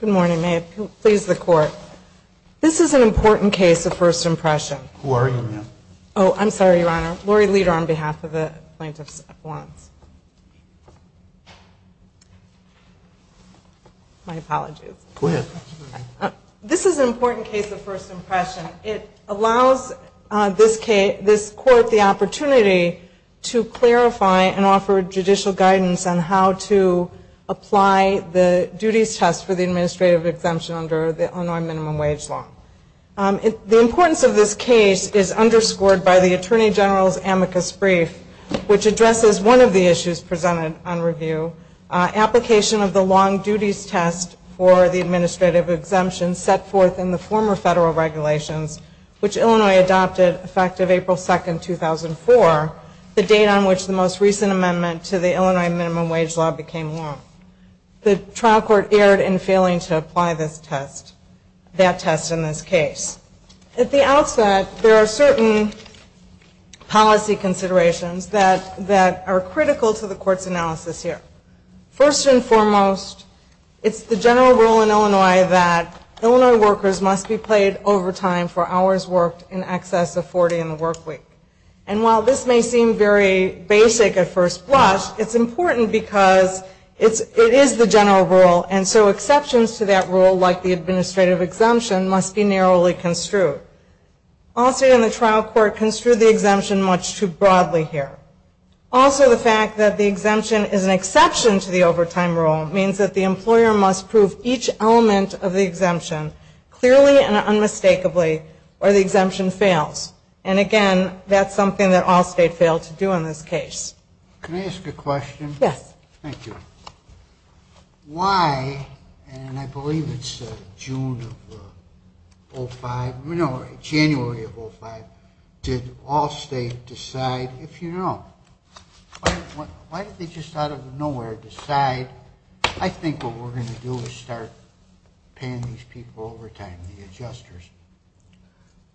Good morning. May it please the court. This is an important case of first impression. It allows this court the opportunity to clarify and offer judicial guidance on how to apply the duties test for the administrative exemption under the Illinois minimum wage law. The importance of this case is underscored by the Attorney General's amicus brief, which addresses one of the issues presented on review, application of the long duties test for the administrative exemption set forth in the former federal regulations, which Illinois adopted effective April 2, 2004, the date on which the most recent amendment to the Illinois minimum wage law became law. The trial court erred in failing to apply that test in this case. At the outset, there are certain policy considerations that are critical to the court's analysis here. First and foremost, it's the general rule in Illinois that Illinois workers must be paid overtime for hours worked in excess of 40 in the work week. And while this may seem very basic at first blush, it's important because it is the general rule, and so exceptions to that rule, like the administrative exemption, must be narrowly construed. All state and the trial court construed the exemption much too broadly here. Also, the fact that the exemption is an exception to the overtime rule means that the employer must prove each element of the exemption clearly and unmistakably, or the exemption fails. And again, that's something that all state failed to do in this case. Can I ask a question? Yes. Thank you. Why, and I believe it's June of 05, no, January of 05, did all state decide, if you know, why did they just out of nowhere decide, I think what we're going to do is start paying these people overtime, the adjusters?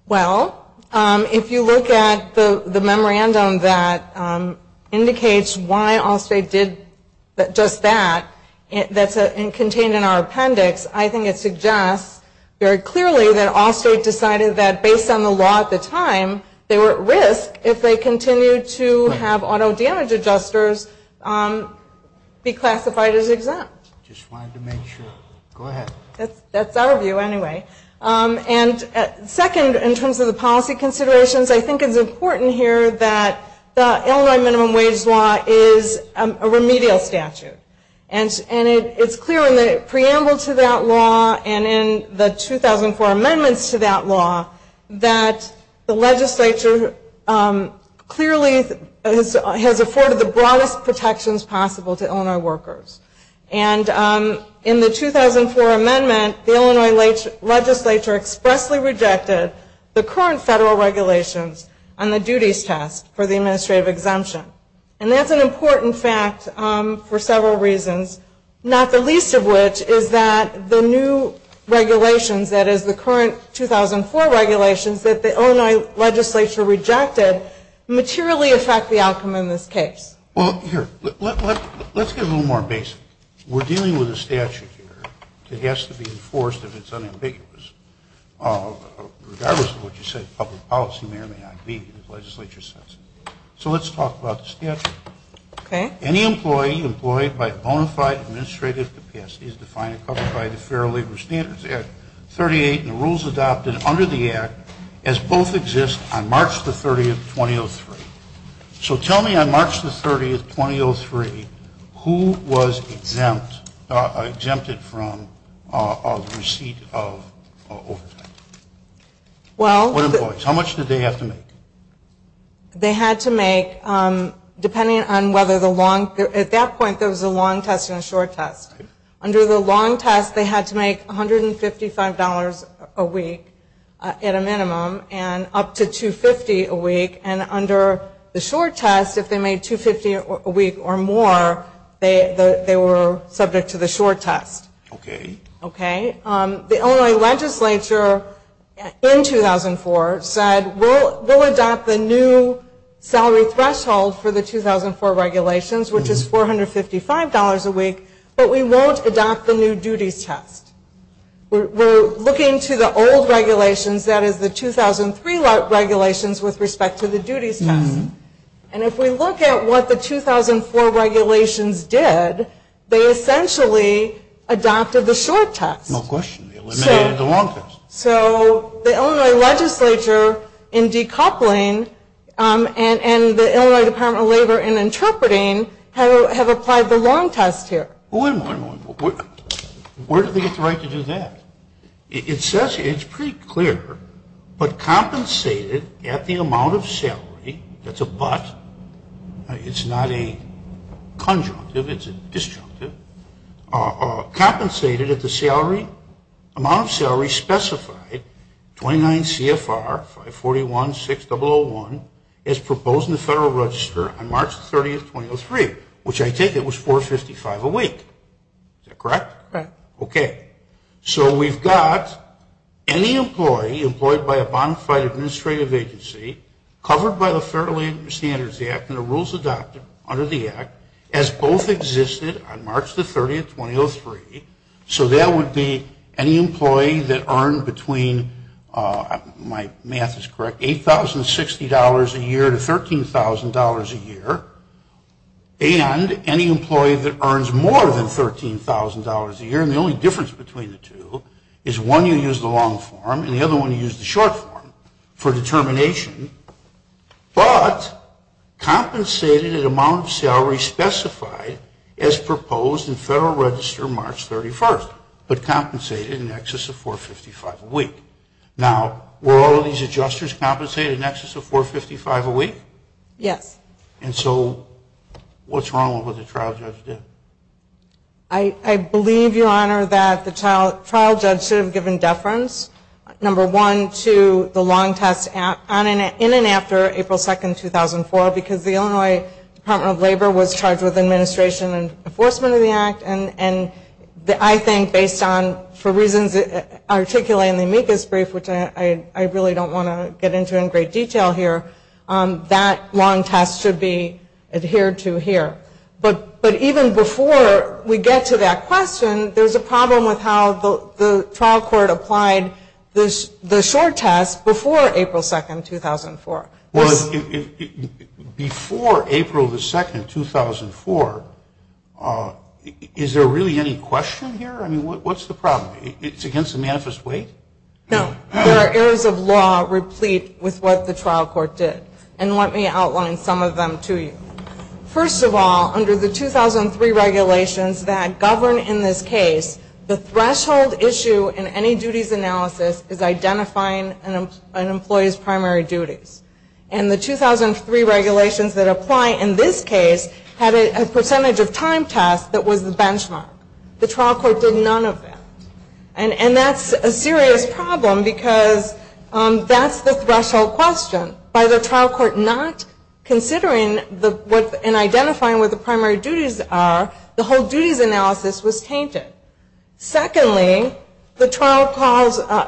Well, if you look at the memorandum that indicates why all state did just that, that's contained in our appendix, I think it suggests very clearly that all state decided that based on the law at the time, they were at risk if they continued to have auto damage adjusters be classified as exempt. Just wanted to make sure. Go ahead. That's our view, anyway. And second, in terms of the policy considerations, I think it's important here that the Illinois minimum wage law is a remedial statute. And it's clear in the preamble to that law and in the 2004 amendments to that law that the legislature clearly has afforded the broadest protections possible to Illinois workers. And in the 2004 amendment, the Illinois legislature expressly rejected the current federal regulations on the duties test for the administrative exemption. And that's an important fact for several reasons, not the least of which is that the new regulations, that is the current 2004 regulations that the Illinois legislature rejected, materially affect the outcome in this case. Well, here, let's get a little more basic. We're dealing with a statute here that has to be enforced if it's unambiguous, regardless of what you say, public policy may or may not be as the legislature says. So let's talk about the statute. Okay. Any employee employed by a bona fide administrative capacity is defined and covered by the Fair Labor Standards Act 38 and the rules adopted under the Act as both exist on March the 30th, 2003. So tell me on March the 30th, 2003, who was exempt, exempted from the receipt of overtime? Well, What employees? How much did they have to make? They had to make, depending on whether the long, at that point, there was a long test and a short test. Under the long test, they had to make $155 a week at a minimum and up to $250 a week. And under the short test, if they made $250 a week or more, they were subject to the short test. Okay. Okay. The Illinois legislature in 2004 said we'll adopt the new salary threshold for the 2004 regulations, which is $455 a week, but we won't adopt the new duties test. We're the 2003 regulations with respect to the duties test. And if we look at what the 2004 regulations did, they essentially adopted the short test. No question. They eliminated the long test. So the Illinois legislature in decoupling and the Illinois Department of Labor in interpreting have applied the long test here. Wait a minute. Where did they get the right to do that? It's pretty clear, but compensated at the amount of salary, that's a but, it's not a conjunctive, it's a disjunctive, compensated at the amount of salary specified, 29 CFR 541-6001, as proposed in the Federal Register on March 30th, 2003, which I take it was $455 a week. Is that correct? Right. Okay. So we've got any employee employed by a bona fide administrative agency covered by the Federal Standards Act and the rules adopted under the Act as both existed on March 30th, 2003. So that would be any employee that earned between, my math is correct, $8,060 a year to $13,000 a year, and any employee that earns more than $13,000 a year, and the only difference between the two is one you use the long form and the other one you use the short form for determination, but compensated at amount of salary specified as proposed in Federal Register March 31st, but compensated in excess of $455 a week. Now, were all of these adjusters compensated in excess of $455 a week? Yes. And so, what's wrong with what the trial judge did? I believe, Your Honor, that the trial judge should have given deference, number one, to the long test in and after April 2nd, 2004, because the Illinois Department of Labor was charged with administration and enforcement of the Act, and I think based on, for reasons articulated in the amicus brief, which I really don't want to get into in great detail here, that long test should be adhered to here. But even before we get to that question, there's a problem with how the trial court applied the short test before April 2nd, 2004. Well, before April 2nd, 2004, is there really any question here? I mean, what's the problem? It's against the manifest weight? No. There are areas of law replete with what the trial court did, and let me outline some of them to you. First of all, under the 2003 regulations that govern in this case, the threshold issue in any duties analysis is identifying an employee's primary duties. And the 2003 regulations that apply in this case had a percentage of time test that was the benchmark. The trial court did none of that. And that's a serious problem, because that's the threshold question. By the trial court not considering and identifying what the primary duties are, the whole duties analysis was tainted. Secondly, the trial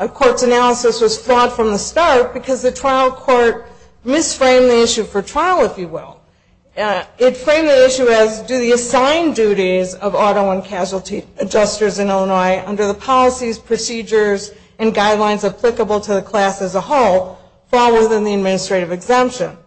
court's analysis was flawed from the start, because the trial court misframed the issue for trial, if you will. It framed the issue as, do the assigned duties of auto and casualty adjusters in Illinois under the policies, procedures, and guidelines applicable to the class as a whole fall within the administrative exemption?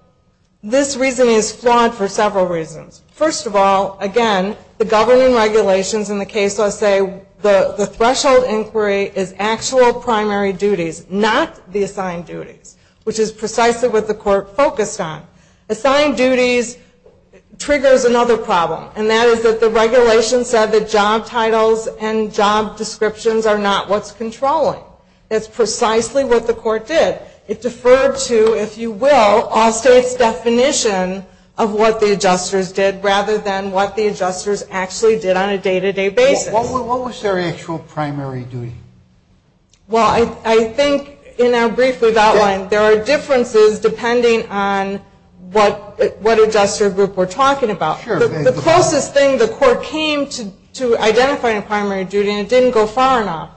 This reasoning is flawed for several reasons. First of all, again, the governing regulations in the case say the threshold inquiry is actual primary duties, not the assigned duties, which is precisely what the court focused on. Assigned duties triggers another problem, and that is that the regulation said that job titles and job descriptions are not what's controlling. That's precisely what the court did. It deferred to, if you will, all states' definition of what the adjusters did rather than what the adjusters actually did on a day-to-day basis. What was their actual primary duty? Well, I think in our brief we've outlined, there are differences depending on what adjuster group we're talking about. The closest thing the court came to identifying a primary duty, and it didn't go far enough,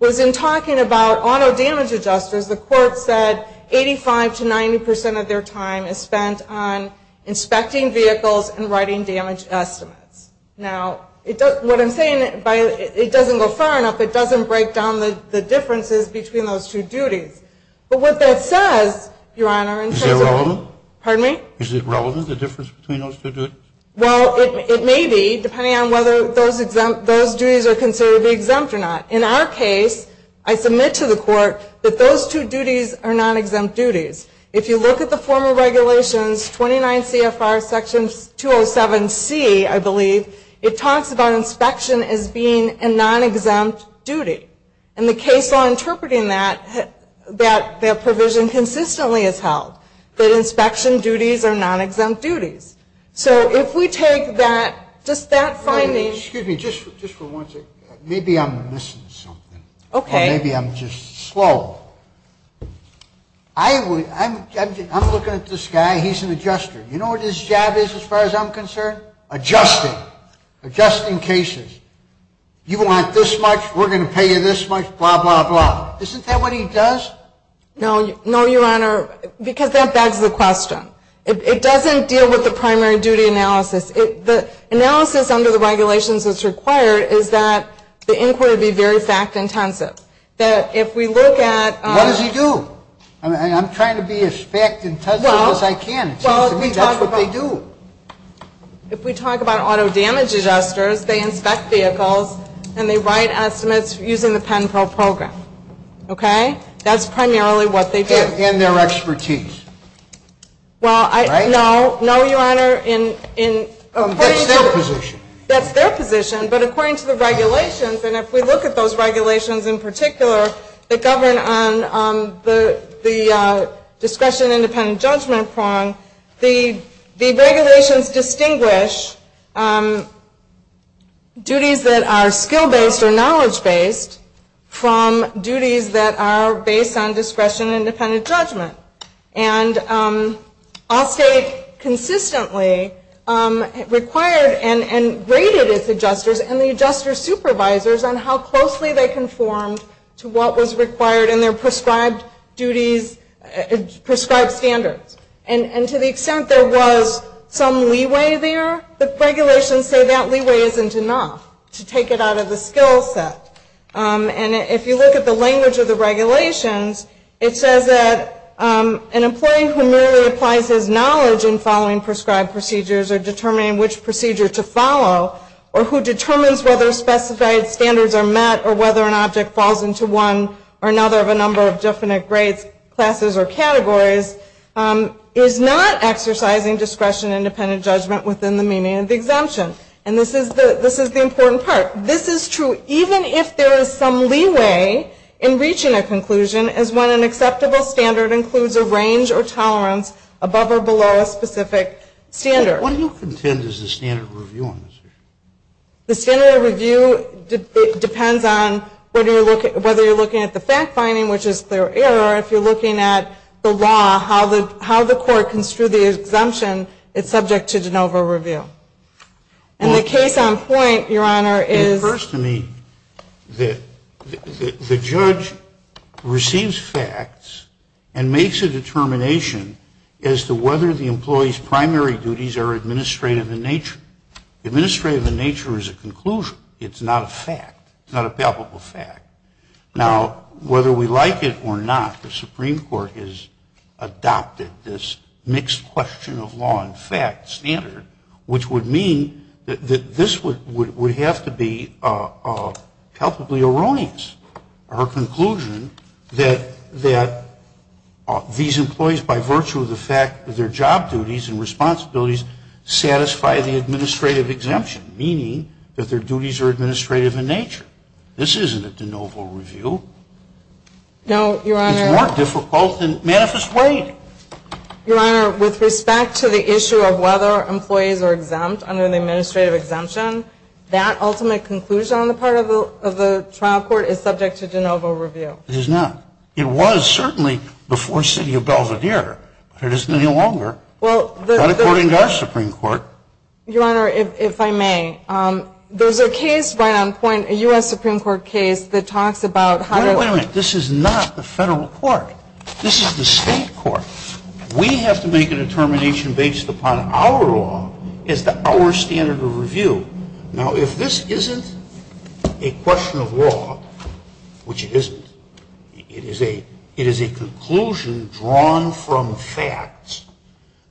was in talking about auto damage adjusters, the court said 85 to 90 percent of their time is spent on inspecting vehicles and writing damage estimates. Now, what I'm saying, it doesn't go far enough, it doesn't break down the differences between those two duties. But what that says, Your Honor, in terms of Is it relevant? Pardon me? Is it relevant, the difference between those two duties? Well, it may be, depending on whether those duties are considered to be exempt or not. In our case, I submit to the court that those two duties are non-exempt duties. If you look at the former regulations, 29 CFR section 207C, I believe, it talks about inspection as being a non-exempt duty. In the case law interpreting that, that provision consistently is held, that inspection duties are non-exempt duties. So, if we take that, just that finding Excuse me, just for one second, maybe I'm missing something, or maybe I'm just slow. I'm looking at this guy, he's an adjuster. You know what his job is, as far as I'm concerned? Adjusting. Adjusting cases. You want this much, we're going to pay you this much, blah, blah, blah. Isn't that what he does? No, Your Honor, because that begs the question. It doesn't deal with the primary duty analysis. The analysis under the regulations that's required is that the inquiry be very fact-intensive. If we look at What does he do? I'm trying to be as fact-intensive as I can. It seems to me that's what they do. If we talk about auto damage adjusters, they inspect vehicles and they write estimates using the PENPRO program. Okay? That's primarily what they do. And their expertise. Well, no. No, Your Honor. That's their position. But according to the regulations, and if we look at those regulations in particular that govern on the discretion and independent judgment prong, the regulations distinguish duties that are skill-based or knowledge-based from duties that are based on discretion and independent judgment. And all state consistently required and graded its adjusters and the adjuster supervisors on how closely they conformed to what was required in their prescribed duties, prescribed standards. And to the extent there was some leeway there, the regulations say that leeway isn't enough to take it out of the skill set. And if you look at the language of the regulations, it says that an employee who merely applies his knowledge in following prescribed procedures or determining which procedure to follow, or who determines whether specified standards are met or whether an object falls into one or another of a number of definite grades, classes, or categories, is not exercising discretion and independent judgment within the meaning of the exemption. And this is the important part. This is true even if there is some leeway in reaching a conclusion as when an acceptable standard includes a range or tolerance above or below a specific standard. What do you contend is the standard review on this issue? The standard review depends on whether you're looking at the fact-finding, which is clear error, or if you're looking at the law, how the court construed the exemption, it's subject to de novo review. And the case on point, Your Honor, is... It occurs to me that the judge receives facts and makes a determination as to whether the employee's primary duties are administrative in nature. Administrative in nature is a conclusion. It's not a fact. It's not a palpable fact. Now, whether we like it or not, the Supreme Court has adopted this mixed question of law and fact standard, which would mean that this would have to be palpably erroneous, our conclusion that these employees, by virtue of the fact that their job duties and responsibilities satisfy the administrative exemption, meaning that their duties are administrative in nature. This isn't a de novo review. No, Your Honor. It's more difficult than manifest waiting. Your Honor, with respect to the issue of whether employees are exempt under the administrative exemption, that ultimate conclusion on the part of the trial court is subject to de novo review. It is not. It was certainly before City of Belvedere, but it isn't any longer. Well, the... Not according to our Supreme Court. Your Honor, if I may, there's a case right on point, a U.S. Supreme Court case that talks about how... Wait a minute. This is not the federal court. This is the state court. We have to make a determination based upon our law as to our standard of review. Now, if this isn't a question of law, which it isn't, it is a conclusion drawn from facts,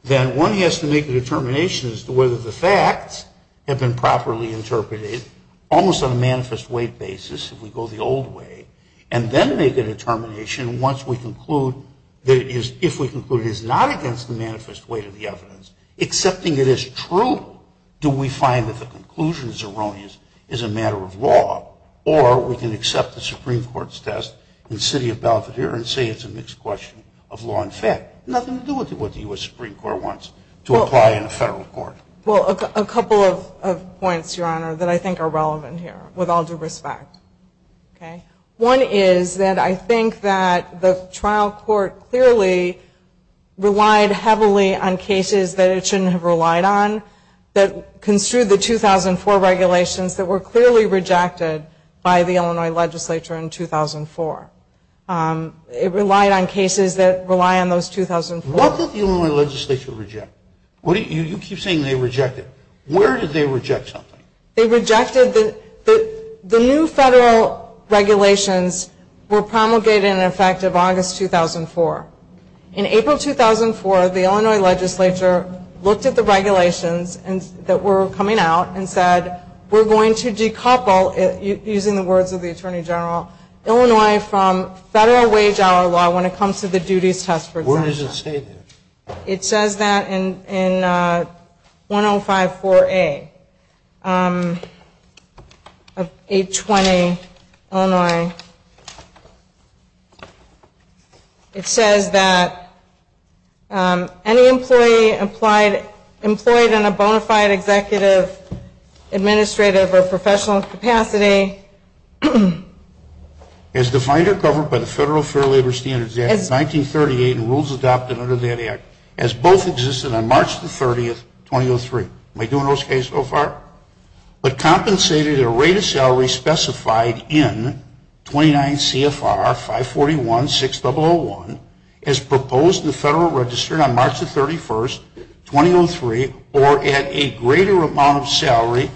then one has to make a determination as to whether the facts have been properly interpreted, almost on a manifest wait basis, if we go the old way, and then make a determination once we conclude that it is... If we conclude it is not against the manifest weight of the evidence, accepting it as true, do we find that the conclusion is erroneous, is a matter of law, or we can accept the Supreme Court's test in City of Belvedere and say it's a mixed question of law and fact. Nothing to do with what the U.S. Supreme Court wants to apply in a federal court. Well, a couple of points, Your Honor, that I think are relevant here, with all due respect. Okay? One is that I think that the trial court clearly relied heavily on cases that it shouldn't have relied on, that construed the 2004 regulations that were clearly rejected by the Illinois legislature in 2004. It relied on cases that rely on those 2004... What did the Illinois legislature reject? You keep saying they rejected. Where did they reject something? They rejected the new federal regulations were promulgated in effect of August 2004. In April 2004, the Illinois legislature looked at the regulations that were coming out and said, we're going to decouple, using the words of the Attorney General, Illinois from federal wage hour law when it comes to the duties test for exemptions. Where does it say that? It says that in 1054A of 820 Illinois. It says that any employee employed in a bona fide executive, administrative, or professional capacity... as both existed on March the 30th, 2003. Am I doing those cases so far? But compensated a rate of salary specified in 29 CFR 541-6001 as proposed in the federal register on March the 31st, 2003, or at a greater amount of salary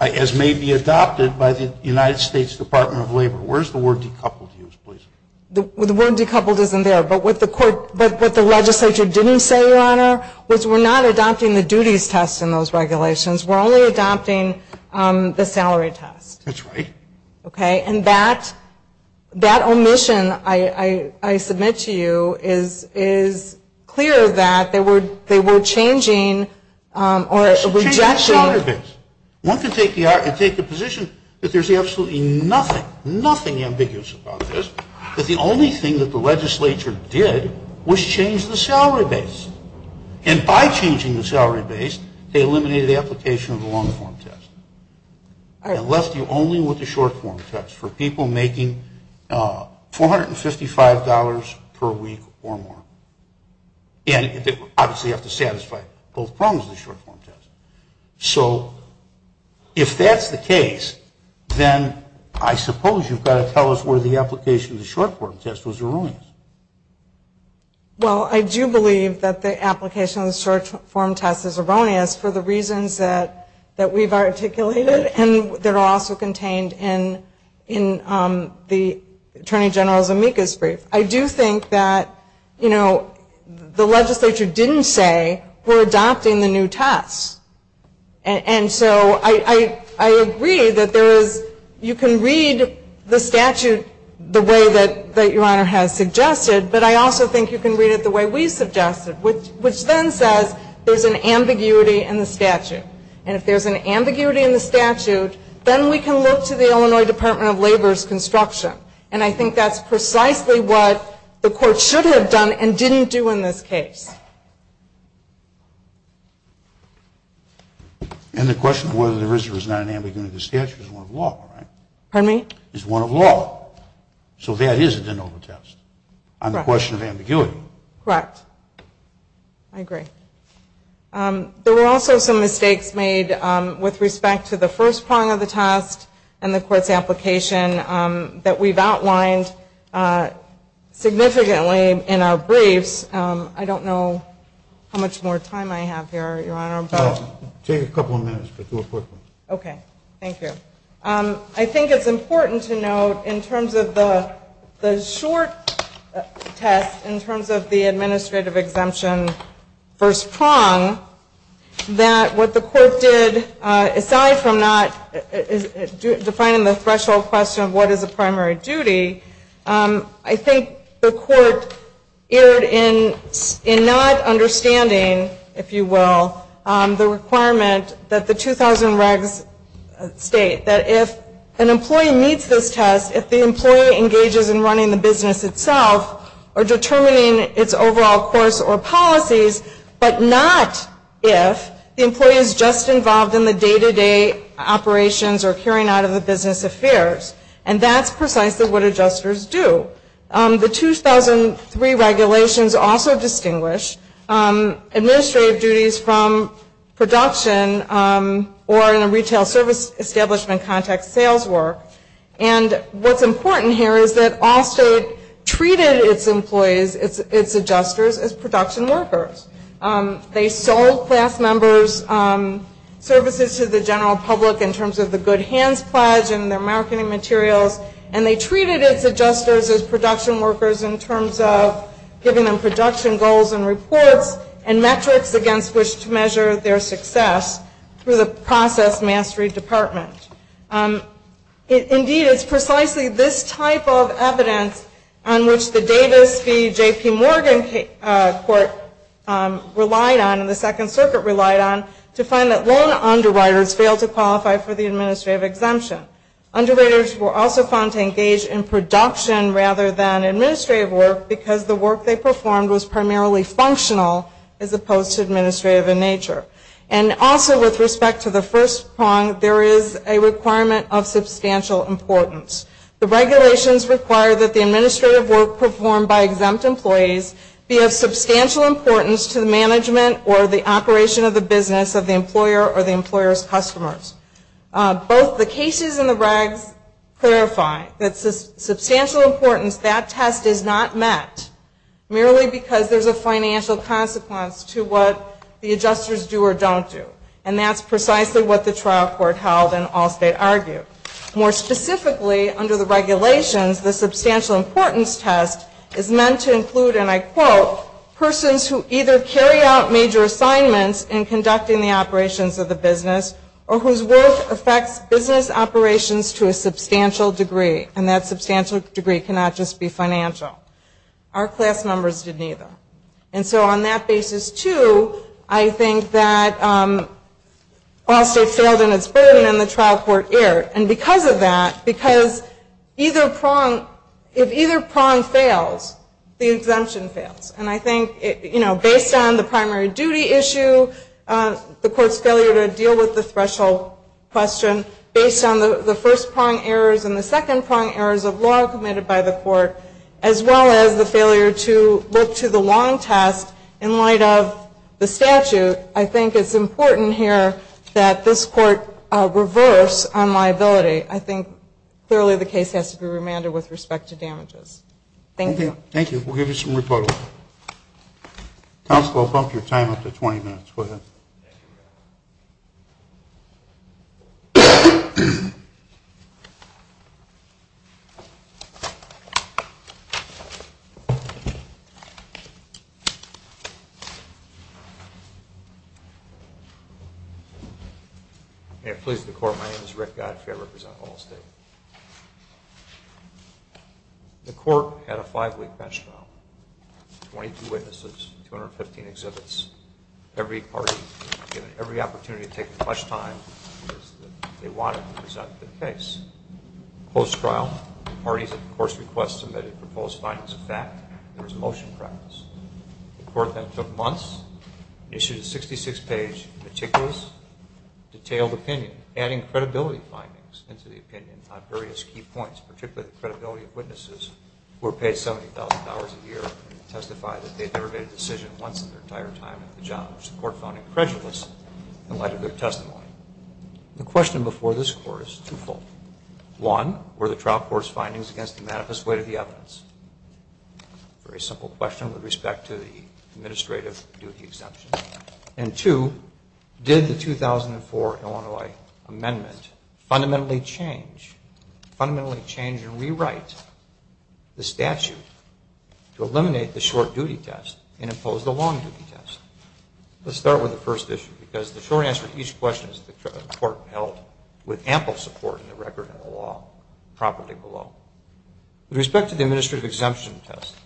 as may be adopted by the United States Department of Labor. The word decoupled isn't there, but what the legislature didn't say, Your Honor, was we're not adopting the duties test in those regulations. We're only adopting the salary test. That's right. Okay? And that omission I submit to you is clear that they were changing or rejecting... One can take the position that there's absolutely nothing, nothing ambiguous about this. But the only thing that the legislature did was change the salary base. And by changing the salary base, they eliminated the application of the long-form test. All right. It left you only with the short-form test for people making $455 per week or more. And obviously you have to satisfy both prongs of the short-form test. So if that's the case, then I suppose you've got to tell us where the application of the short-form test was erroneous. Well, I do believe that the application of the short-form test is erroneous for the reasons that we've articulated and that are also contained in the Attorney General's amicus brief. I do think that, you know, the legislature didn't say we're adopting the new tests. And so I agree that you can read the statute the way that Your Honor has suggested, but I also think you can read it the way we suggested, which then says there's an ambiguity in the statute. And if there's an ambiguity in the statute, then we can look to the Illinois Department of Labor's construction. And I think that's precisely what the Court should have done and didn't do in this case. And the question of whether there is or is not an ambiguity in the statute is one of law, right? Pardon me? Is one of law. So that is a de novo test on the question of ambiguity. Correct. I agree. There were also some mistakes made with respect to the first prong of the test and the Court's application that we've outlined significantly in our briefs. I don't know how much more time I have here, Your Honor. Take a couple of minutes. Okay. Thank you. I think it's important to note in terms of the short test, in terms of the administrative exemption first prong, that what the Court did, aside from not defining the threshold question of what is a primary duty, I think the Court erred in not understanding, if you will, the requirement that the 2000 regs state that if an employee meets this test, if the employee engages in running the business itself or determining its overall course or policies, but not if the employee is just involved in the day-to-day operations or carrying out of the business affairs. And that's precisely what adjusters do. The 2003 regulations also distinguish administrative duties from production or in a retail service establishment context, sales work. And what's important here is that all state treated its employees, its adjusters, as production workers. They sold class members' services to the general public in terms of the Good Hands Pledge and their marketing materials, and they treated its adjusters as production workers in terms of giving them production goals and reports and metrics against which to measure their success through the process mastery department. Indeed, it's precisely this type of evidence on which the Davis v. P. Morgan Court relied on, and the Second Circuit relied on, to find that lone underwriters failed to qualify for the administrative exemption. Underwriters were also found to engage in production rather than administrative work because the work they performed was primarily functional as opposed to administrative in nature. And also with respect to the first prong, there is a requirement of substantial importance. The regulations require that the administrative work performed by exempt employees be of substantial importance to the management or the operation of the business of the employer or the employer's customers. Both the cases and the regs clarify that substantial importance. That test is not met merely because there's a financial consequence to what the adjusters do or don't do. And that's precisely what the trial court held and all state argued. More specifically, under the regulations, the substantial importance test is meant to include, and I quote, persons who either carry out major assignments in conducting the operations of the business or whose work affects business operations to a substantial degree. And that substantial degree cannot just be financial. Our class members did neither. And so on that basis, too, I think that all state failed in its burden and the trial court erred. And because of that, because if either prong fails, the exemption fails. And I think based on the primary duty issue, the court's failure to deal with the threshold question, based on the first prong errors and the second prong errors of law committed by the court, as well as the failure to look to the long test in light of the statute, I think it's important here that this court reverse on liability. I think clearly the case has to be remanded with respect to damages. Thank you. Thank you. May it please the court, my name is Rick Godfrey. I represent Allstate. The court had a five-week bench trial, 22 witnesses, 215 exhibits. Every party was given every opportunity to take as much time as they wanted to present the case. Post-trial, the parties at the court's request submitted proposed findings of fact. There was a motion preference. The court then took months, issued a 66-page meticulous, detailed opinion, adding credibility findings into the opinion on various key points, particularly the credibility of witnesses who were paid $70,000 a year to testify that they had never made a decision once in their entire time at the job, which the court found incredulous in light of their testimony. The question before this court is twofold. One, were the trial court's findings against the manifest weight of the evidence? Very simple question with respect to the administrative duty exemption. And two, did the 2004 Illinois Amendment fundamentally change and rewrite the statute to eliminate the short-duty test and impose the long-duty test? Let's start with the first issue, because the short answer to each question is that the court held with ample support in the record and the law, property law. With respect to the administrative exemption test,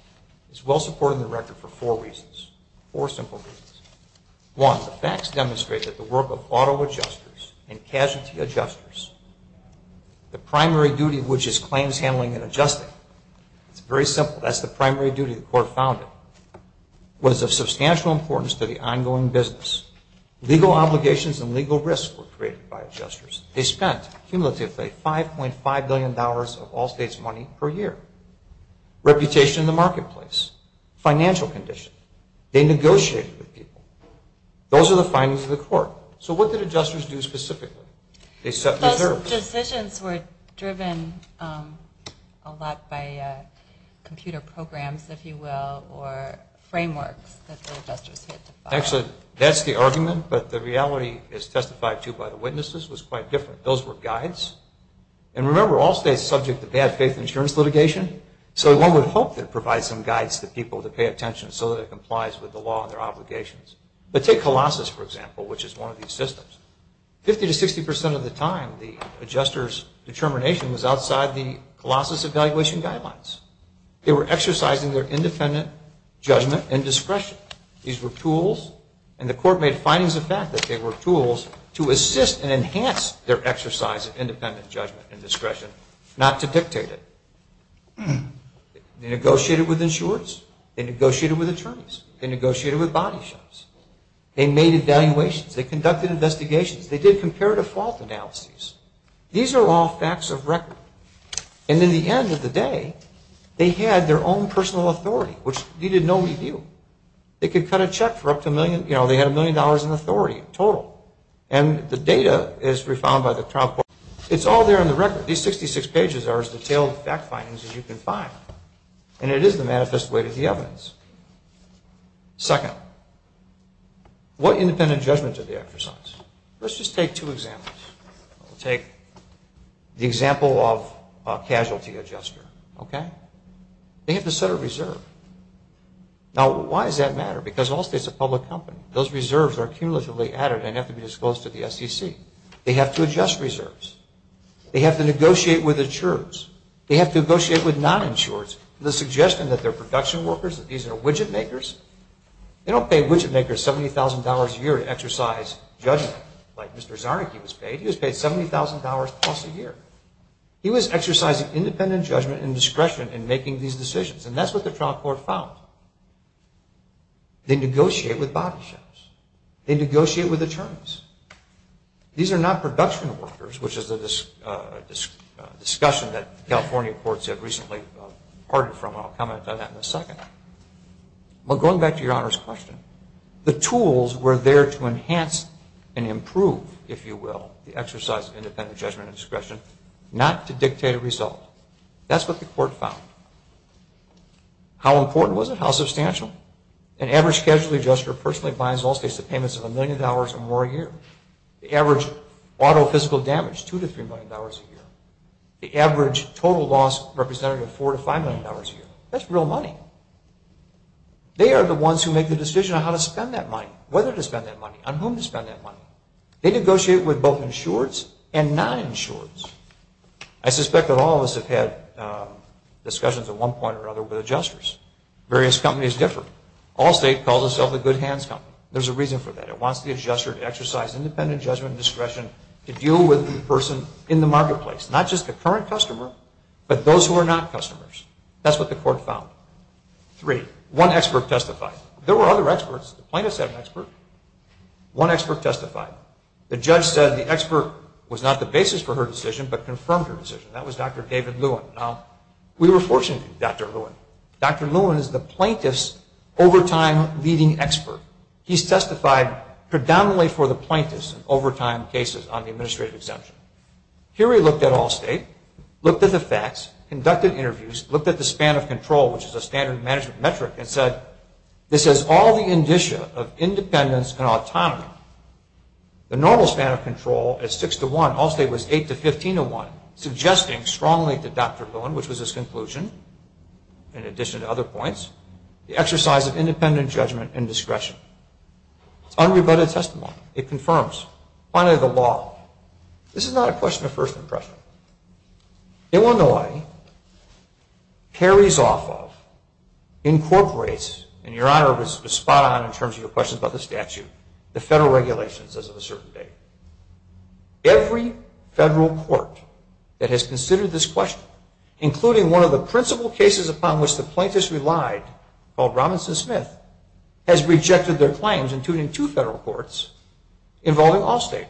it's well-supported in the record for four reasons, four simple reasons. One, the facts demonstrate that the work of auto adjusters and casualty adjusters, the primary duty, which is claims handling and adjusting, it's very simple. That's the primary duty the court found was of substantial importance to the ongoing business. Legal obligations and legal risks were created by adjusters. They spent, cumulatively, $5.5 billion of all states' money per year. Reputation in the marketplace, financial condition, they negotiated with people. Those are the findings of the court. So what did adjusters do specifically? Those decisions were driven a lot by computer programs, if you will, or frameworks that the adjusters had to follow. Actually, that's the argument, but the reality as testified to by the witnesses was quite different. Those were guides. And remember, all states subject to bad faith insurance litigation, so one would hope that it provides some guides to people to pay attention so that it complies with the law and their obligations. But take Colossus, for example, which is one of these systems. 50 to 60% of the time, the adjuster's determination was outside the Colossus evaluation guidelines. They were exercising their independent judgment and discretion. These were tools, and the court made findings of that, that they were tools to assist and enhance their exercise of independent judgment and discretion, not to dictate it. They negotiated with insurers. They negotiated with attorneys. They negotiated with body shops. They made evaluations. They conducted investigations. They did comparative fault analyses. These are all facts of record. And in the end of the day, they had their own personal authority, which needed no review. They could cut a check for up to a million, you know, they had a million dollars in authority total. And the data is re-found by the trial court. It's all there on the record. These 66 pages are as detailed fact findings as you can find, and it is the manifest weight of the evidence. Second, what independent judgment did they exercise? Let's just take two examples. We'll take the example of a casualty adjuster. They have to set a reserve. Now, why does that matter? Because Allstate is a public company. Those reserves are cumulatively added and have to be disclosed to the SEC. They have to adjust reserves. They have to negotiate with insurers. They have to negotiate with non-insurers with the suggestion that they're production workers, that these are widget makers. They don't pay widget makers $70,000 a year to exercise judgment like Mr. Czarnecki was paid. He was paid $70,000 plus a year. He was exercising independent judgment and discretion in making these decisions, and that's what the trial court found. They negotiate with body shops. They negotiate with attorneys. These are not production workers, which is a discussion that California courts have recently parted from, and I'll comment on that in a second. Well, going back to Your Honor's question, the tools were there to enhance and improve, if you will, the exercise of independent judgment and discretion, not to dictate a result. That's what the court found. How important was it? How substantial? An average casualty adjuster personally binds Allstate to payments of $1 million or more a year. The average auto physical damage, $2 to $3 million a year. The average total loss representative, $4 to $5 million a year. That's real money. They are the ones who make the decision on how to spend that money, whether to spend that money, on whom to spend that money. They negotiate with both insureds and non-insureds. I suspect that all of us have had discussions at one point or another with adjusters. Various companies differ. Allstate calls itself a good hands company. There's a reason for that. It wants the adjuster to exercise independent judgment and discretion to deal with the person in the marketplace, not just the current customer, but those who are not customers. That's what the court found. Three, one expert testified. There were other experts. The plaintiffs had an expert. One expert testified. The judge said the expert was not the basis for her decision, but confirmed her decision. That was Dr. David Lewin. We were fortunate to have Dr. Lewin. Dr. Lewin is the plaintiff's overtime leading expert. He's testified predominantly for the plaintiffs in overtime cases on the administrative exemption. Here he looked at Allstate, looked at the facts, conducted interviews, looked at the span of control, which is a standard management metric, and said this is all the indicia of independence and autonomy. The normal span of control is 6 to 1. Allstate was 8 to 15 to 1, suggesting strongly to Dr. Lewin, which was his conclusion, in addition to other points, the exercise of independent judgment and discretion. It's unrebutted testimony. It confirms. Finally, the law. This is not a question of first impression. Illinois carries off of, incorporates, and Your Honor was spot on in terms of your questions about the statute, the federal regulations as of a certain date. Every federal court that has considered this question, including one of the principal cases upon which the plaintiffs relied called Robinson-Smith, has rejected their claims, including two federal courts involving Allstate.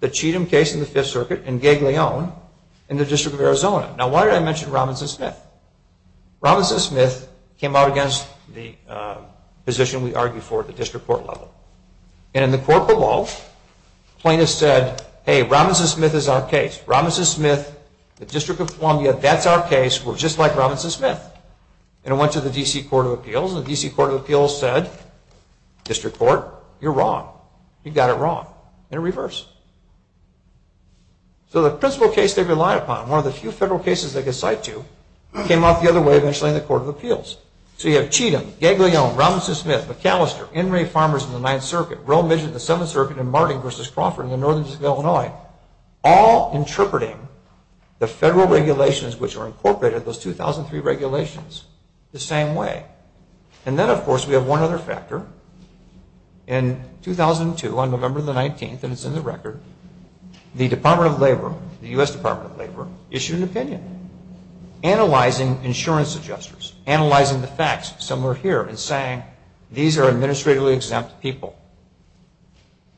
The Cheatham case in the Fifth Circuit and Gaglione in the District of Arizona. Now why did I mention Robinson-Smith? Robinson-Smith came out against the position we argued for at the district court level. And in the court below, plaintiffs said, hey, Robinson-Smith is our case. Robinson-Smith, the District of Columbia, that's our case. We're just like Robinson-Smith. And it went to the D.C. Court of Appeals, and the D.C. Court of Appeals said, District Court, you're wrong. You got it wrong. And it reversed. So the principal case they relied upon, one of the few federal cases they could cite to, came out the other way eventually in the Court of Appeals. So you have Cheatham, Gaglione, Robinson-Smith, McAllister, Enry Farmers in the Ninth Circuit, Roe Midgett in the Seventh Circuit, and Martin v. Crawford in the Northern District of Illinois, all interpreting the federal regulations which are incorporated, those 2003 regulations, the same way. And then, of course, we have one other factor. In 2002, on November the 19th, and it's in the record, the Department of Labor, the U.S. Department of Labor, issued an opinion analyzing insurance adjusters, analyzing the facts somewhere here and saying these are administratively exempt people.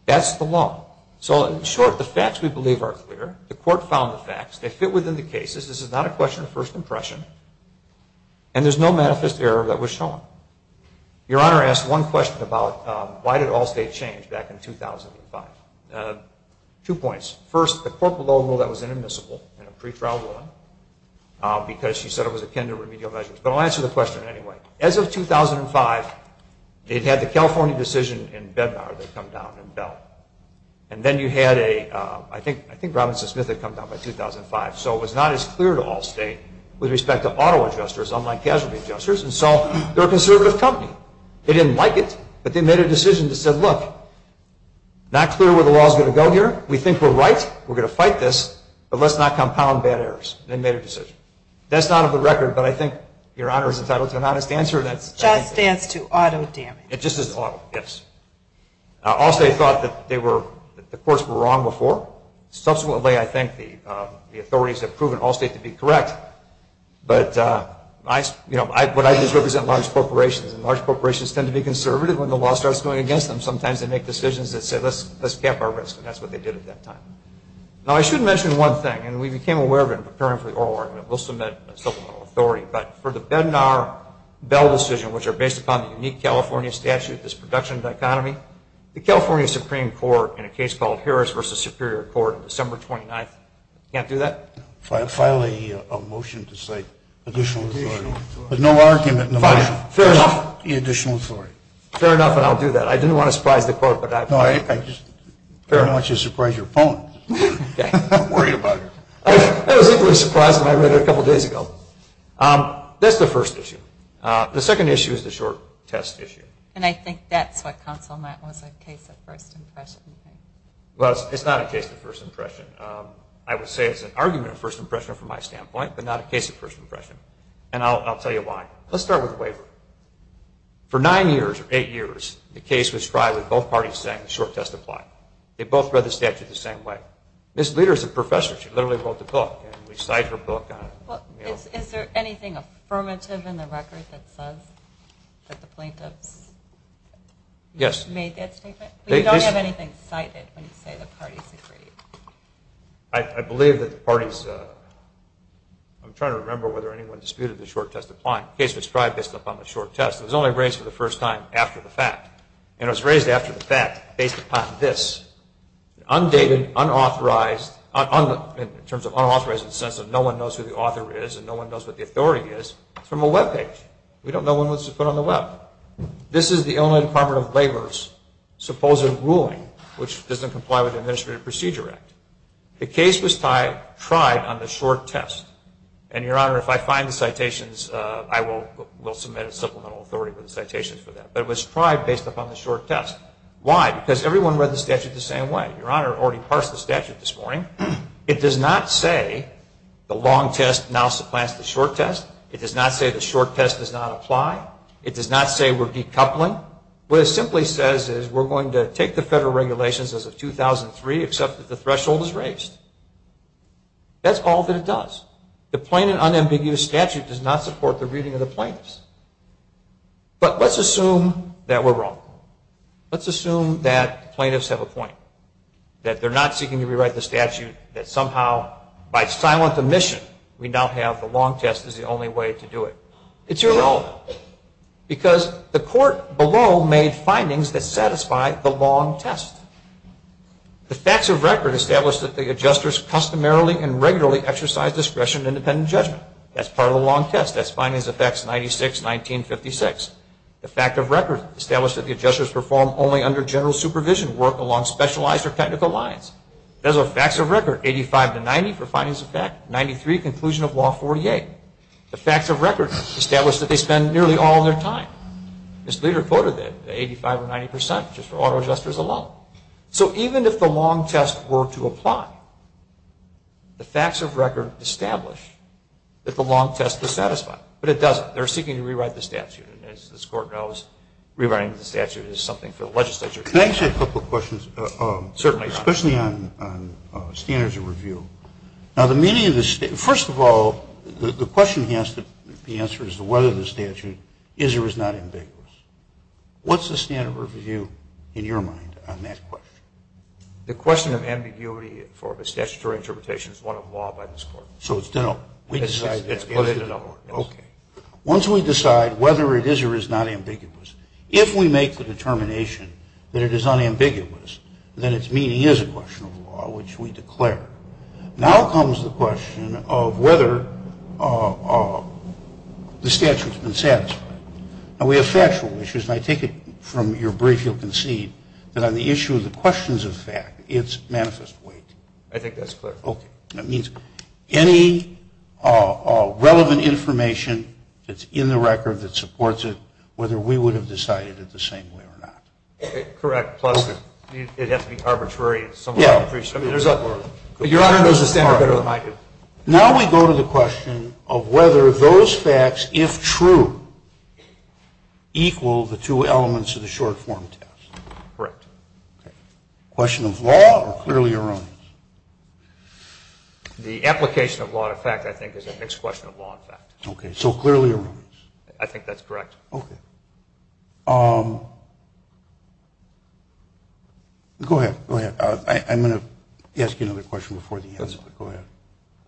That's the law. So in short, the facts we believe are clear. The court found the facts. They fit within the cases. This is not a question of first impression. And there's no manifest error that was shown. Your Honor asked one question about why did all state change back in 2005. Two points. First, the court below ruled that was inadmissible in a pretrial one because she said it was akin to remedial measures. But I'll answer the question anyway. As of 2005, they'd had the California decision in Bednar that had come down in Bell. And then you had a, I think Robinson Smith had come down by 2005. So it was not as clear to all state with respect to auto adjusters, unlike casualty adjusters. And so they're a conservative company. They didn't like it, but they made a decision that said, look, not clear where the law is going to go here. We think we're right. We're going to fight this. But let's not compound bad errors. They made a decision. That's not of the record, but I think Your Honor is entitled to an honest answer. Just stands to auto damage. It just is auto, yes. All state thought that the courts were wrong before. Subsequently, I think the authorities have proven all state to be correct. But I just represent large corporations, and large corporations tend to be conservative when the law starts going against them. Sometimes they make decisions that say, let's cap our risk. And that's what they did at that time. Now, I should mention one thing. And we became aware of it in preparing for the oral argument. We'll submit a supplemental authority. But for the Bednar-Bell decision, which are based upon the unique California statute, this production dichotomy, the California Supreme Court, in a case called Harris v. Superior Court on December 29th, can't do that? File a motion to cite additional authority. But no argument in the motion. Fair enough. The additional authority. Fair enough, and I'll do that. I didn't want to surprise the court. No, I just didn't want you to surprise your opponent. I'm worried about her. I was equally surprised when I read it a couple days ago. That's the first issue. The second issue is the short test issue. And I think that's what counsel might want to say, a case of first impression. Well, it's not a case of first impression. I would say it's an argument of first impression from my standpoint, but not a case of first impression. And I'll tell you why. Let's start with the waiver. For nine years, or eight years, the case was tried with both parties saying the short test applied. They both read the statute the same way. Ms. Leder is a professor. She literally wrote the book, and we cite her book. Is there anything affirmative in the record that says that the plaintiffs made that statement? You don't have anything cited when you say the parties agreed. I believe that the parties – I'm trying to remember whether anyone disputed the short test applying. The case was tried based upon the short test. It was only raised for the first time after the fact. And it was raised after the fact based upon this. Undated, unauthorized, in terms of unauthorized in the sense that no one knows who the author is and no one knows what the authority is, it's from a web page. We don't know when it was put on the web. This is the Illinois Department of Labor's supposed ruling, which doesn't comply with the Administrative Procedure Act. The case was tried on the short test. And, Your Honor, if I find the citations, I will submit a supplemental authority for the citations for that. But it was tried based upon the short test. Why? Because everyone read the statute the same way. Your Honor already parsed the statute this morning. It does not say the long test now supplants the short test. It does not say the short test does not apply. It does not say we're decoupling. What it simply says is we're going to take the federal regulations as of 2003, except that the threshold is raised. That's all that it does. The plain and unambiguous statute does not support the reading of the plaintiffs. But let's assume that we're wrong. Let's assume that the plaintiffs have a point. That they're not seeking to rewrite the statute. That somehow, by silent omission, we now have the long test as the only way to do it. It's irrelevant. Because the court below made findings that satisfy the long test. The facts of record establish that the adjusters customarily and regularly exercise discretion in independent judgment. That's part of the long test. That's findings of Facts 96-1956. The facts of record establish that the adjusters perform only under general supervision, work along specialized or technical lines. Those are facts of record, 85-90 for findings of Fact 93, conclusion of Law 48. The facts of record establish that they spend nearly all of their time. Ms. Leder quoted that, 85 or 90 percent, just for auto adjusters alone. So even if the long test were to apply, the facts of record establish that the long test is satisfying. But it doesn't. They're seeking to rewrite the statute. And as this Court knows, rewriting the statute is something for the legislature. Can I ask you a couple of questions? Certainly, Your Honor. Especially on standards of review. Now, the meaning of the statute. First of all, the question has to be answered as to whether the statute is or is not ambiguous. What's the standard of review in your mind on that question? The question of ambiguity for a statutory interpretation is one of law by this Court. So it's done up. We decide that. Okay. Once we decide whether it is or is not ambiguous, if we make the determination that it is unambiguous, then its meaning is a question of law, which we declare. Now comes the question of whether the statute's been satisfied. Now, we have factual issues. And I take it from your brief, you'll concede, that on the issue of the questions of fact, it's manifest weight. I think that's clear. Okay. That means any relevant information that's in the record that supports it, whether we would have decided it the same way or not. Correct. Plus it has to be arbitrary in some way. Your Honor knows the standard better than I do. Now we go to the question of whether those facts, if true, equal the two elements of the short-form test. Correct. Okay. Question of law or clearly erroneous? The application of law to fact, I think, is a mixed question of law and fact. Okay. So clearly erroneous. I think that's correct. Okay. Go ahead. Go ahead. I'm going to ask you another question before the end. Go ahead.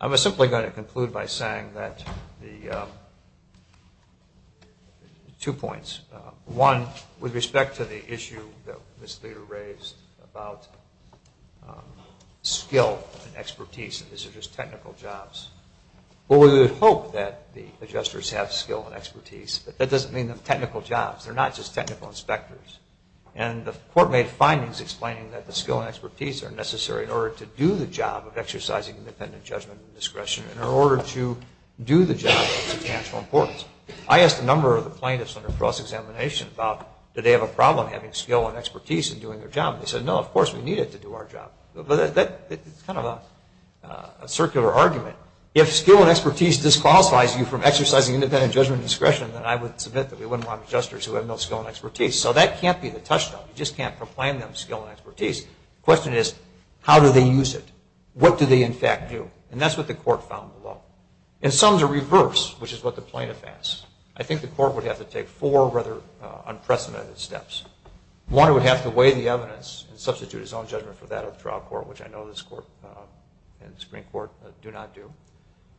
I'm simply going to conclude by saying that the two points. One, with respect to the issue that Ms. Leder raised about skill and expertise, that these are just technical jobs. Well, we would hope that the adjusters have skill and expertise, but that doesn't mean they're technical jobs. They're not just technical inspectors. And the court made findings explaining that the skill and expertise are necessary in order to do the job of exercising independent judgment and discretion, in order to do the job of substantial importance. I asked a number of the plaintiffs under cross-examination about, do they have a problem having skill and expertise in doing their job? They said, no, of course we need it to do our job. It's kind of a circular argument. If skill and expertise disqualifies you from exercising independent judgment and discretion, then I would submit that we wouldn't want adjusters who have no skill and expertise. So that can't be the touchstone. You just can't proclaim them skill and expertise. The question is, how do they use it? What do they, in fact, do? And that's what the court found below. In sum, to reverse, which is what the plaintiff asked, I think the court would have to take four rather unprecedented steps. One, it would have to weigh the evidence and substitute its own judgment for that of the trial court, which I know this court and Supreme Court do not do.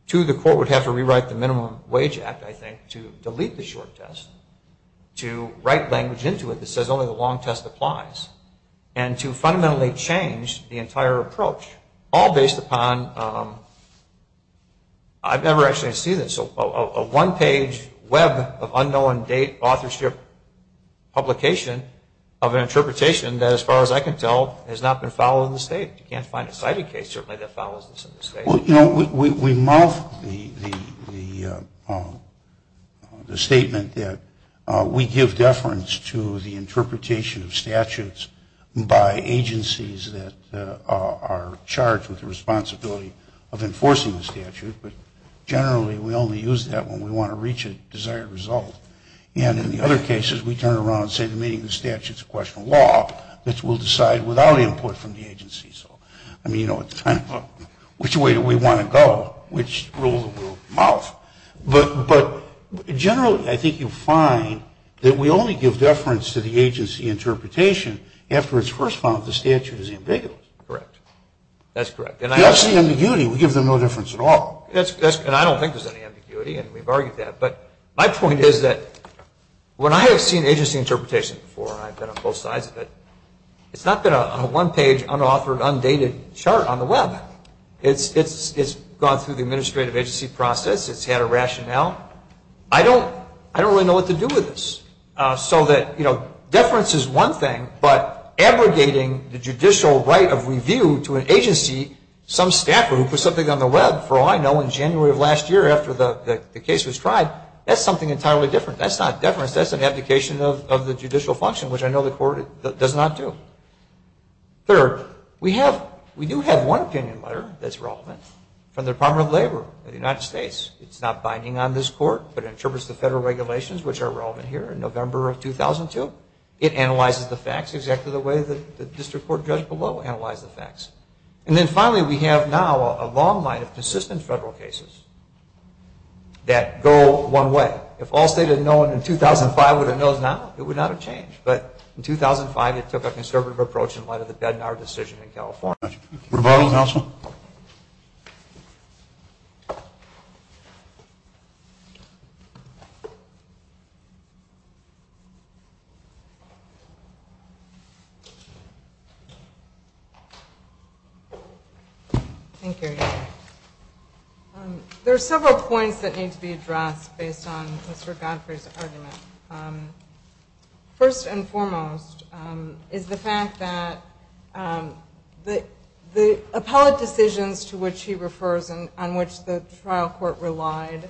Two, the court would have to rewrite the Minimum Wage Act, I think, to delete the short test, to write language into it that says only the long test applies, and to fundamentally change the entire approach, all based upon a one-page web of unknown date, authorship, publication of an interpretation that, as far as I can tell, has not been followed in the State. You can't find a cited case, certainly, that follows this in the State. Well, you know, we mouth the statement that we give deference to the interpretation of statutes by agencies that are charged with the responsibility of enforcing the statute, but generally we only use that when we want to reach a desired result. And in the other cases, we turn around and say the meaning of the statute is a question of law, which we'll decide without input from the agency. So, I mean, you know, it's kind of a, which way do we want to go? Which rule do we mouth? But generally, I think you find that we only give deference to the agency interpretation after it's first found that the statute is ambiguous. Correct. That's correct. There's no ambiguity. We give them no difference at all. And I don't think there's any ambiguity, and we've argued that. But my point is that when I have seen agency interpretation before, and I've been on both sides of it, it's not been a one-page, unauthored, undated chart on the Web. It's gone through the administrative agency process. It's had a rationale. I don't really know what to do with this. So that, you know, deference is one thing, but abrogating the judicial right of review to an agency, some staffer who put something on the Web, for all I know in January of last year after the case was tried, that's something entirely different. That's not deference. That's an abdication of the judicial function, which I know the court does not do. Third, we do have one opinion letter that's relevant from the Department of Labor of the United States. It's not binding on this court, but it interprets the federal regulations, which are relevant here in November of 2002. It analyzes the facts exactly the way the district court judge below analyzed the facts. And then finally, we have now a long line of consistent federal cases that go one way. If all state had known in 2005 what it knows now, it would not have changed. But in 2005, it took a conservative approach in light of the Bednar decision in California. Thank you. Rebuttal, counsel? Thank you. There are several points that need to be addressed based on Mr. First and foremost is the fact that the appellate decisions to which he refers and on which the trial court relied,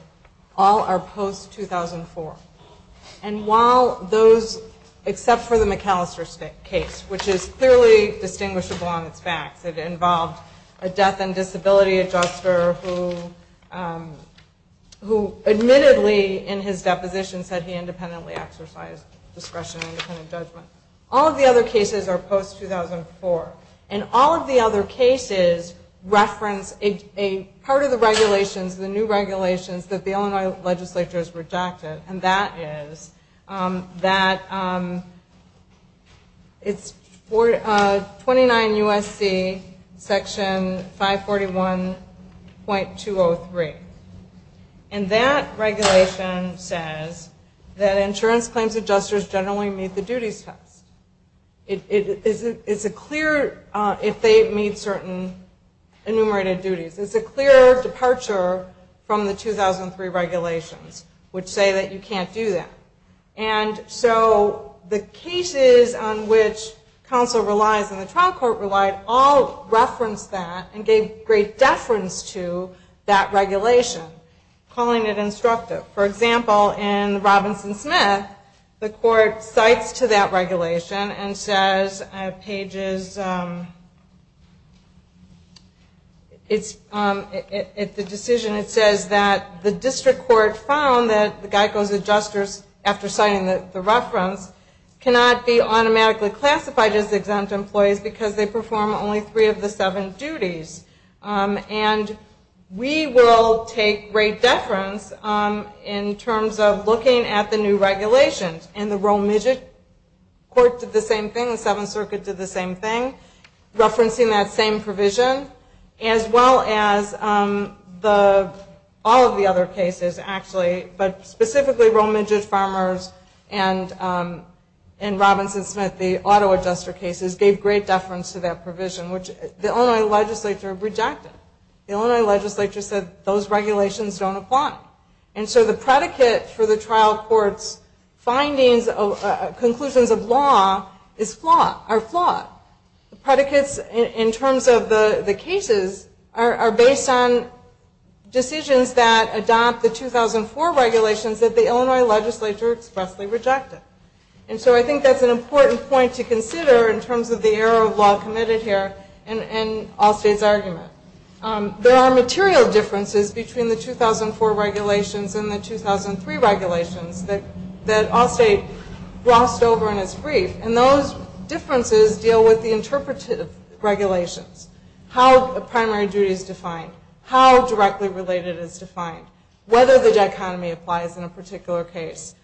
all are post-2004. And while those, except for the McAllister case, which is clearly distinguishable on its facts, it involved a death and disability adjuster who admittedly in his discretionary independent judgment. All of the other cases are post-2004. And all of the other cases reference a part of the regulations, the new regulations that the Illinois legislature has rejected, and that is that it's 29 U.S.C. section 541.203. And that regulation says that insurance claims adjusters generally meet the duties test. It's a clear, if they meet certain enumerated duties, it's a clear departure from the 2003 regulations, which say that you can't do that. And so the cases on which counsel relies and the trial court relied all calling it instructive. For example, in the Robinson-Smith, the court cites to that regulation and says at the decision it says that the district court found that the GEICO's adjusters, after citing the reference, cannot be automatically classified as exempt employees because they perform only three of the seven duties. And we will take great deference in terms of looking at the new regulations and the Rome Midget court did the same thing, the Seventh Circuit did the same thing, referencing that same provision, as well as all of the other cases, actually, but specifically Rome Midget Farmers and Robinson-Smith, the auto adjuster cases, gave great deference to that provision, which the Illinois legislature rejected. The Illinois legislature said those regulations don't apply. And so the predicate for the trial court's findings, conclusions of law, is flawed, are flawed. The predicates in terms of the cases are based on decisions that adopt the 2004 regulations that the Illinois legislature expressly rejected. And so I think that's an important point to consider in terms of the error of law committed here in Allstate's argument. There are material differences between the 2004 regulations and the 2003 regulations that Allstate glossed over in its brief, and those differences deal with the interpretive regulations, how a primary duty is defined, how directly related is defined, whether the dichotomy applies in a particular case.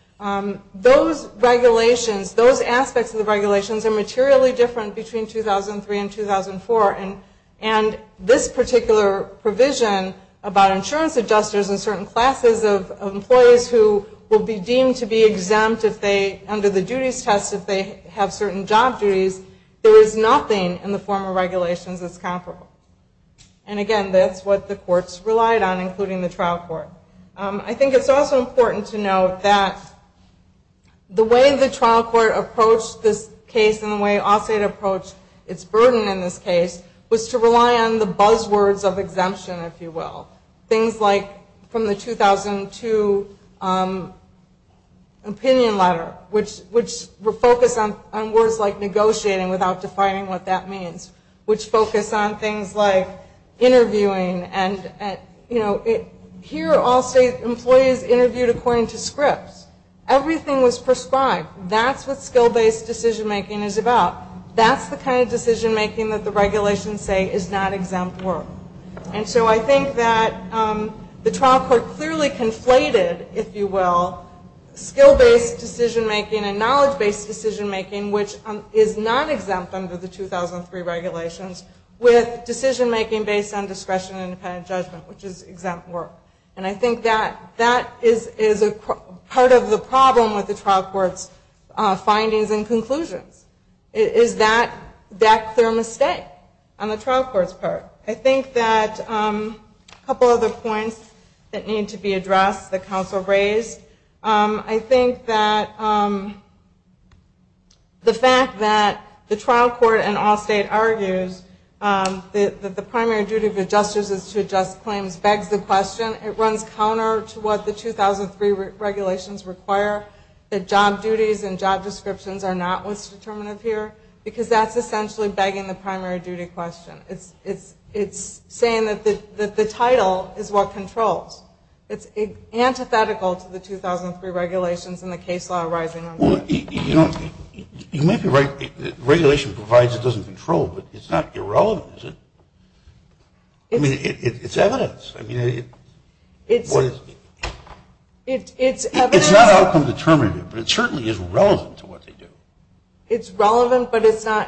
Those regulations, those aspects of the regulations, are materially different between 2003 and 2004, and this particular provision about insurance adjusters and certain classes of employees who will be deemed to be exempt under the duties test if they have certain job duties, there is nothing in the form of regulations that's comparable. And again, that's what the courts relied on, including the trial court. I think it's also important to note that the way the trial court approached this case and the way Allstate approached its burden in this case was to rely on the buzzwords of exemption, if you will. Things like from the 2002 opinion letter, which were focused on words like negotiating without defining what that means, which focus on things like interviewing. Here Allstate employees interviewed according to scripts. Everything was prescribed. That's what skill-based decision-making is about. That's the kind of decision-making that the regulations say is not exempt work. And so I think that the trial court clearly conflated, if you will, skill-based decision-making and knowledge-based decision-making, which is not exempt under the 2003 regulations, with decision-making based on discretion and independent judgment, which is exempt work. And I think that that is part of the problem with the trial court's findings and conclusions. Is that their mistake on the trial court's part? I think that a couple of other points that need to be addressed that counsel raised. I think that the fact that the trial court and Allstate argues that the 2003 regulations require that job duties and job descriptions are not what's determinative here, because that's essentially begging the primary duty question. It's saying that the title is what controls. It's antithetical to the 2003 regulations and the case law arising under it. You might be right. Regulation provides it doesn't control, but it's not irrelevant. I mean, it's evidence. I mean, it's not outcome determinative, but it certainly is relevant to what they do. It's relevant, but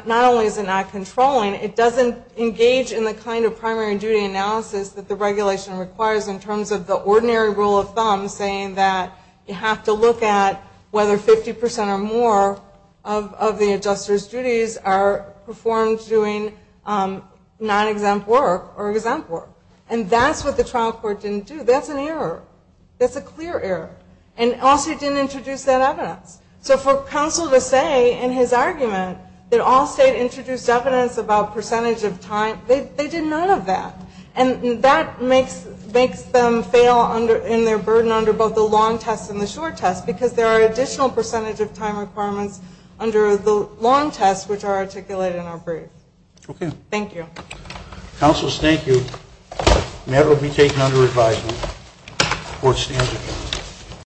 not only is it not controlling, it doesn't engage in the kind of primary duty analysis that the regulation requires in terms of the ordinary rule of thumb saying that you have to look at whether 50% or more of the adjuster's duties are performed doing non-exempt work or exempt work. And that's what the trial court didn't do. That's an error. That's a clear error. And Allstate didn't introduce that evidence. So for counsel to say in his argument that Allstate introduced evidence about percentage of time, they did none of that. And that makes them fail in their burden under both the long test and the short test, because there are additional percentage of time requirements under the long test which are articulated in our brief. Okay. Thank you. Counsel, thank you. That will be taken under advisement. Court stands adjourned.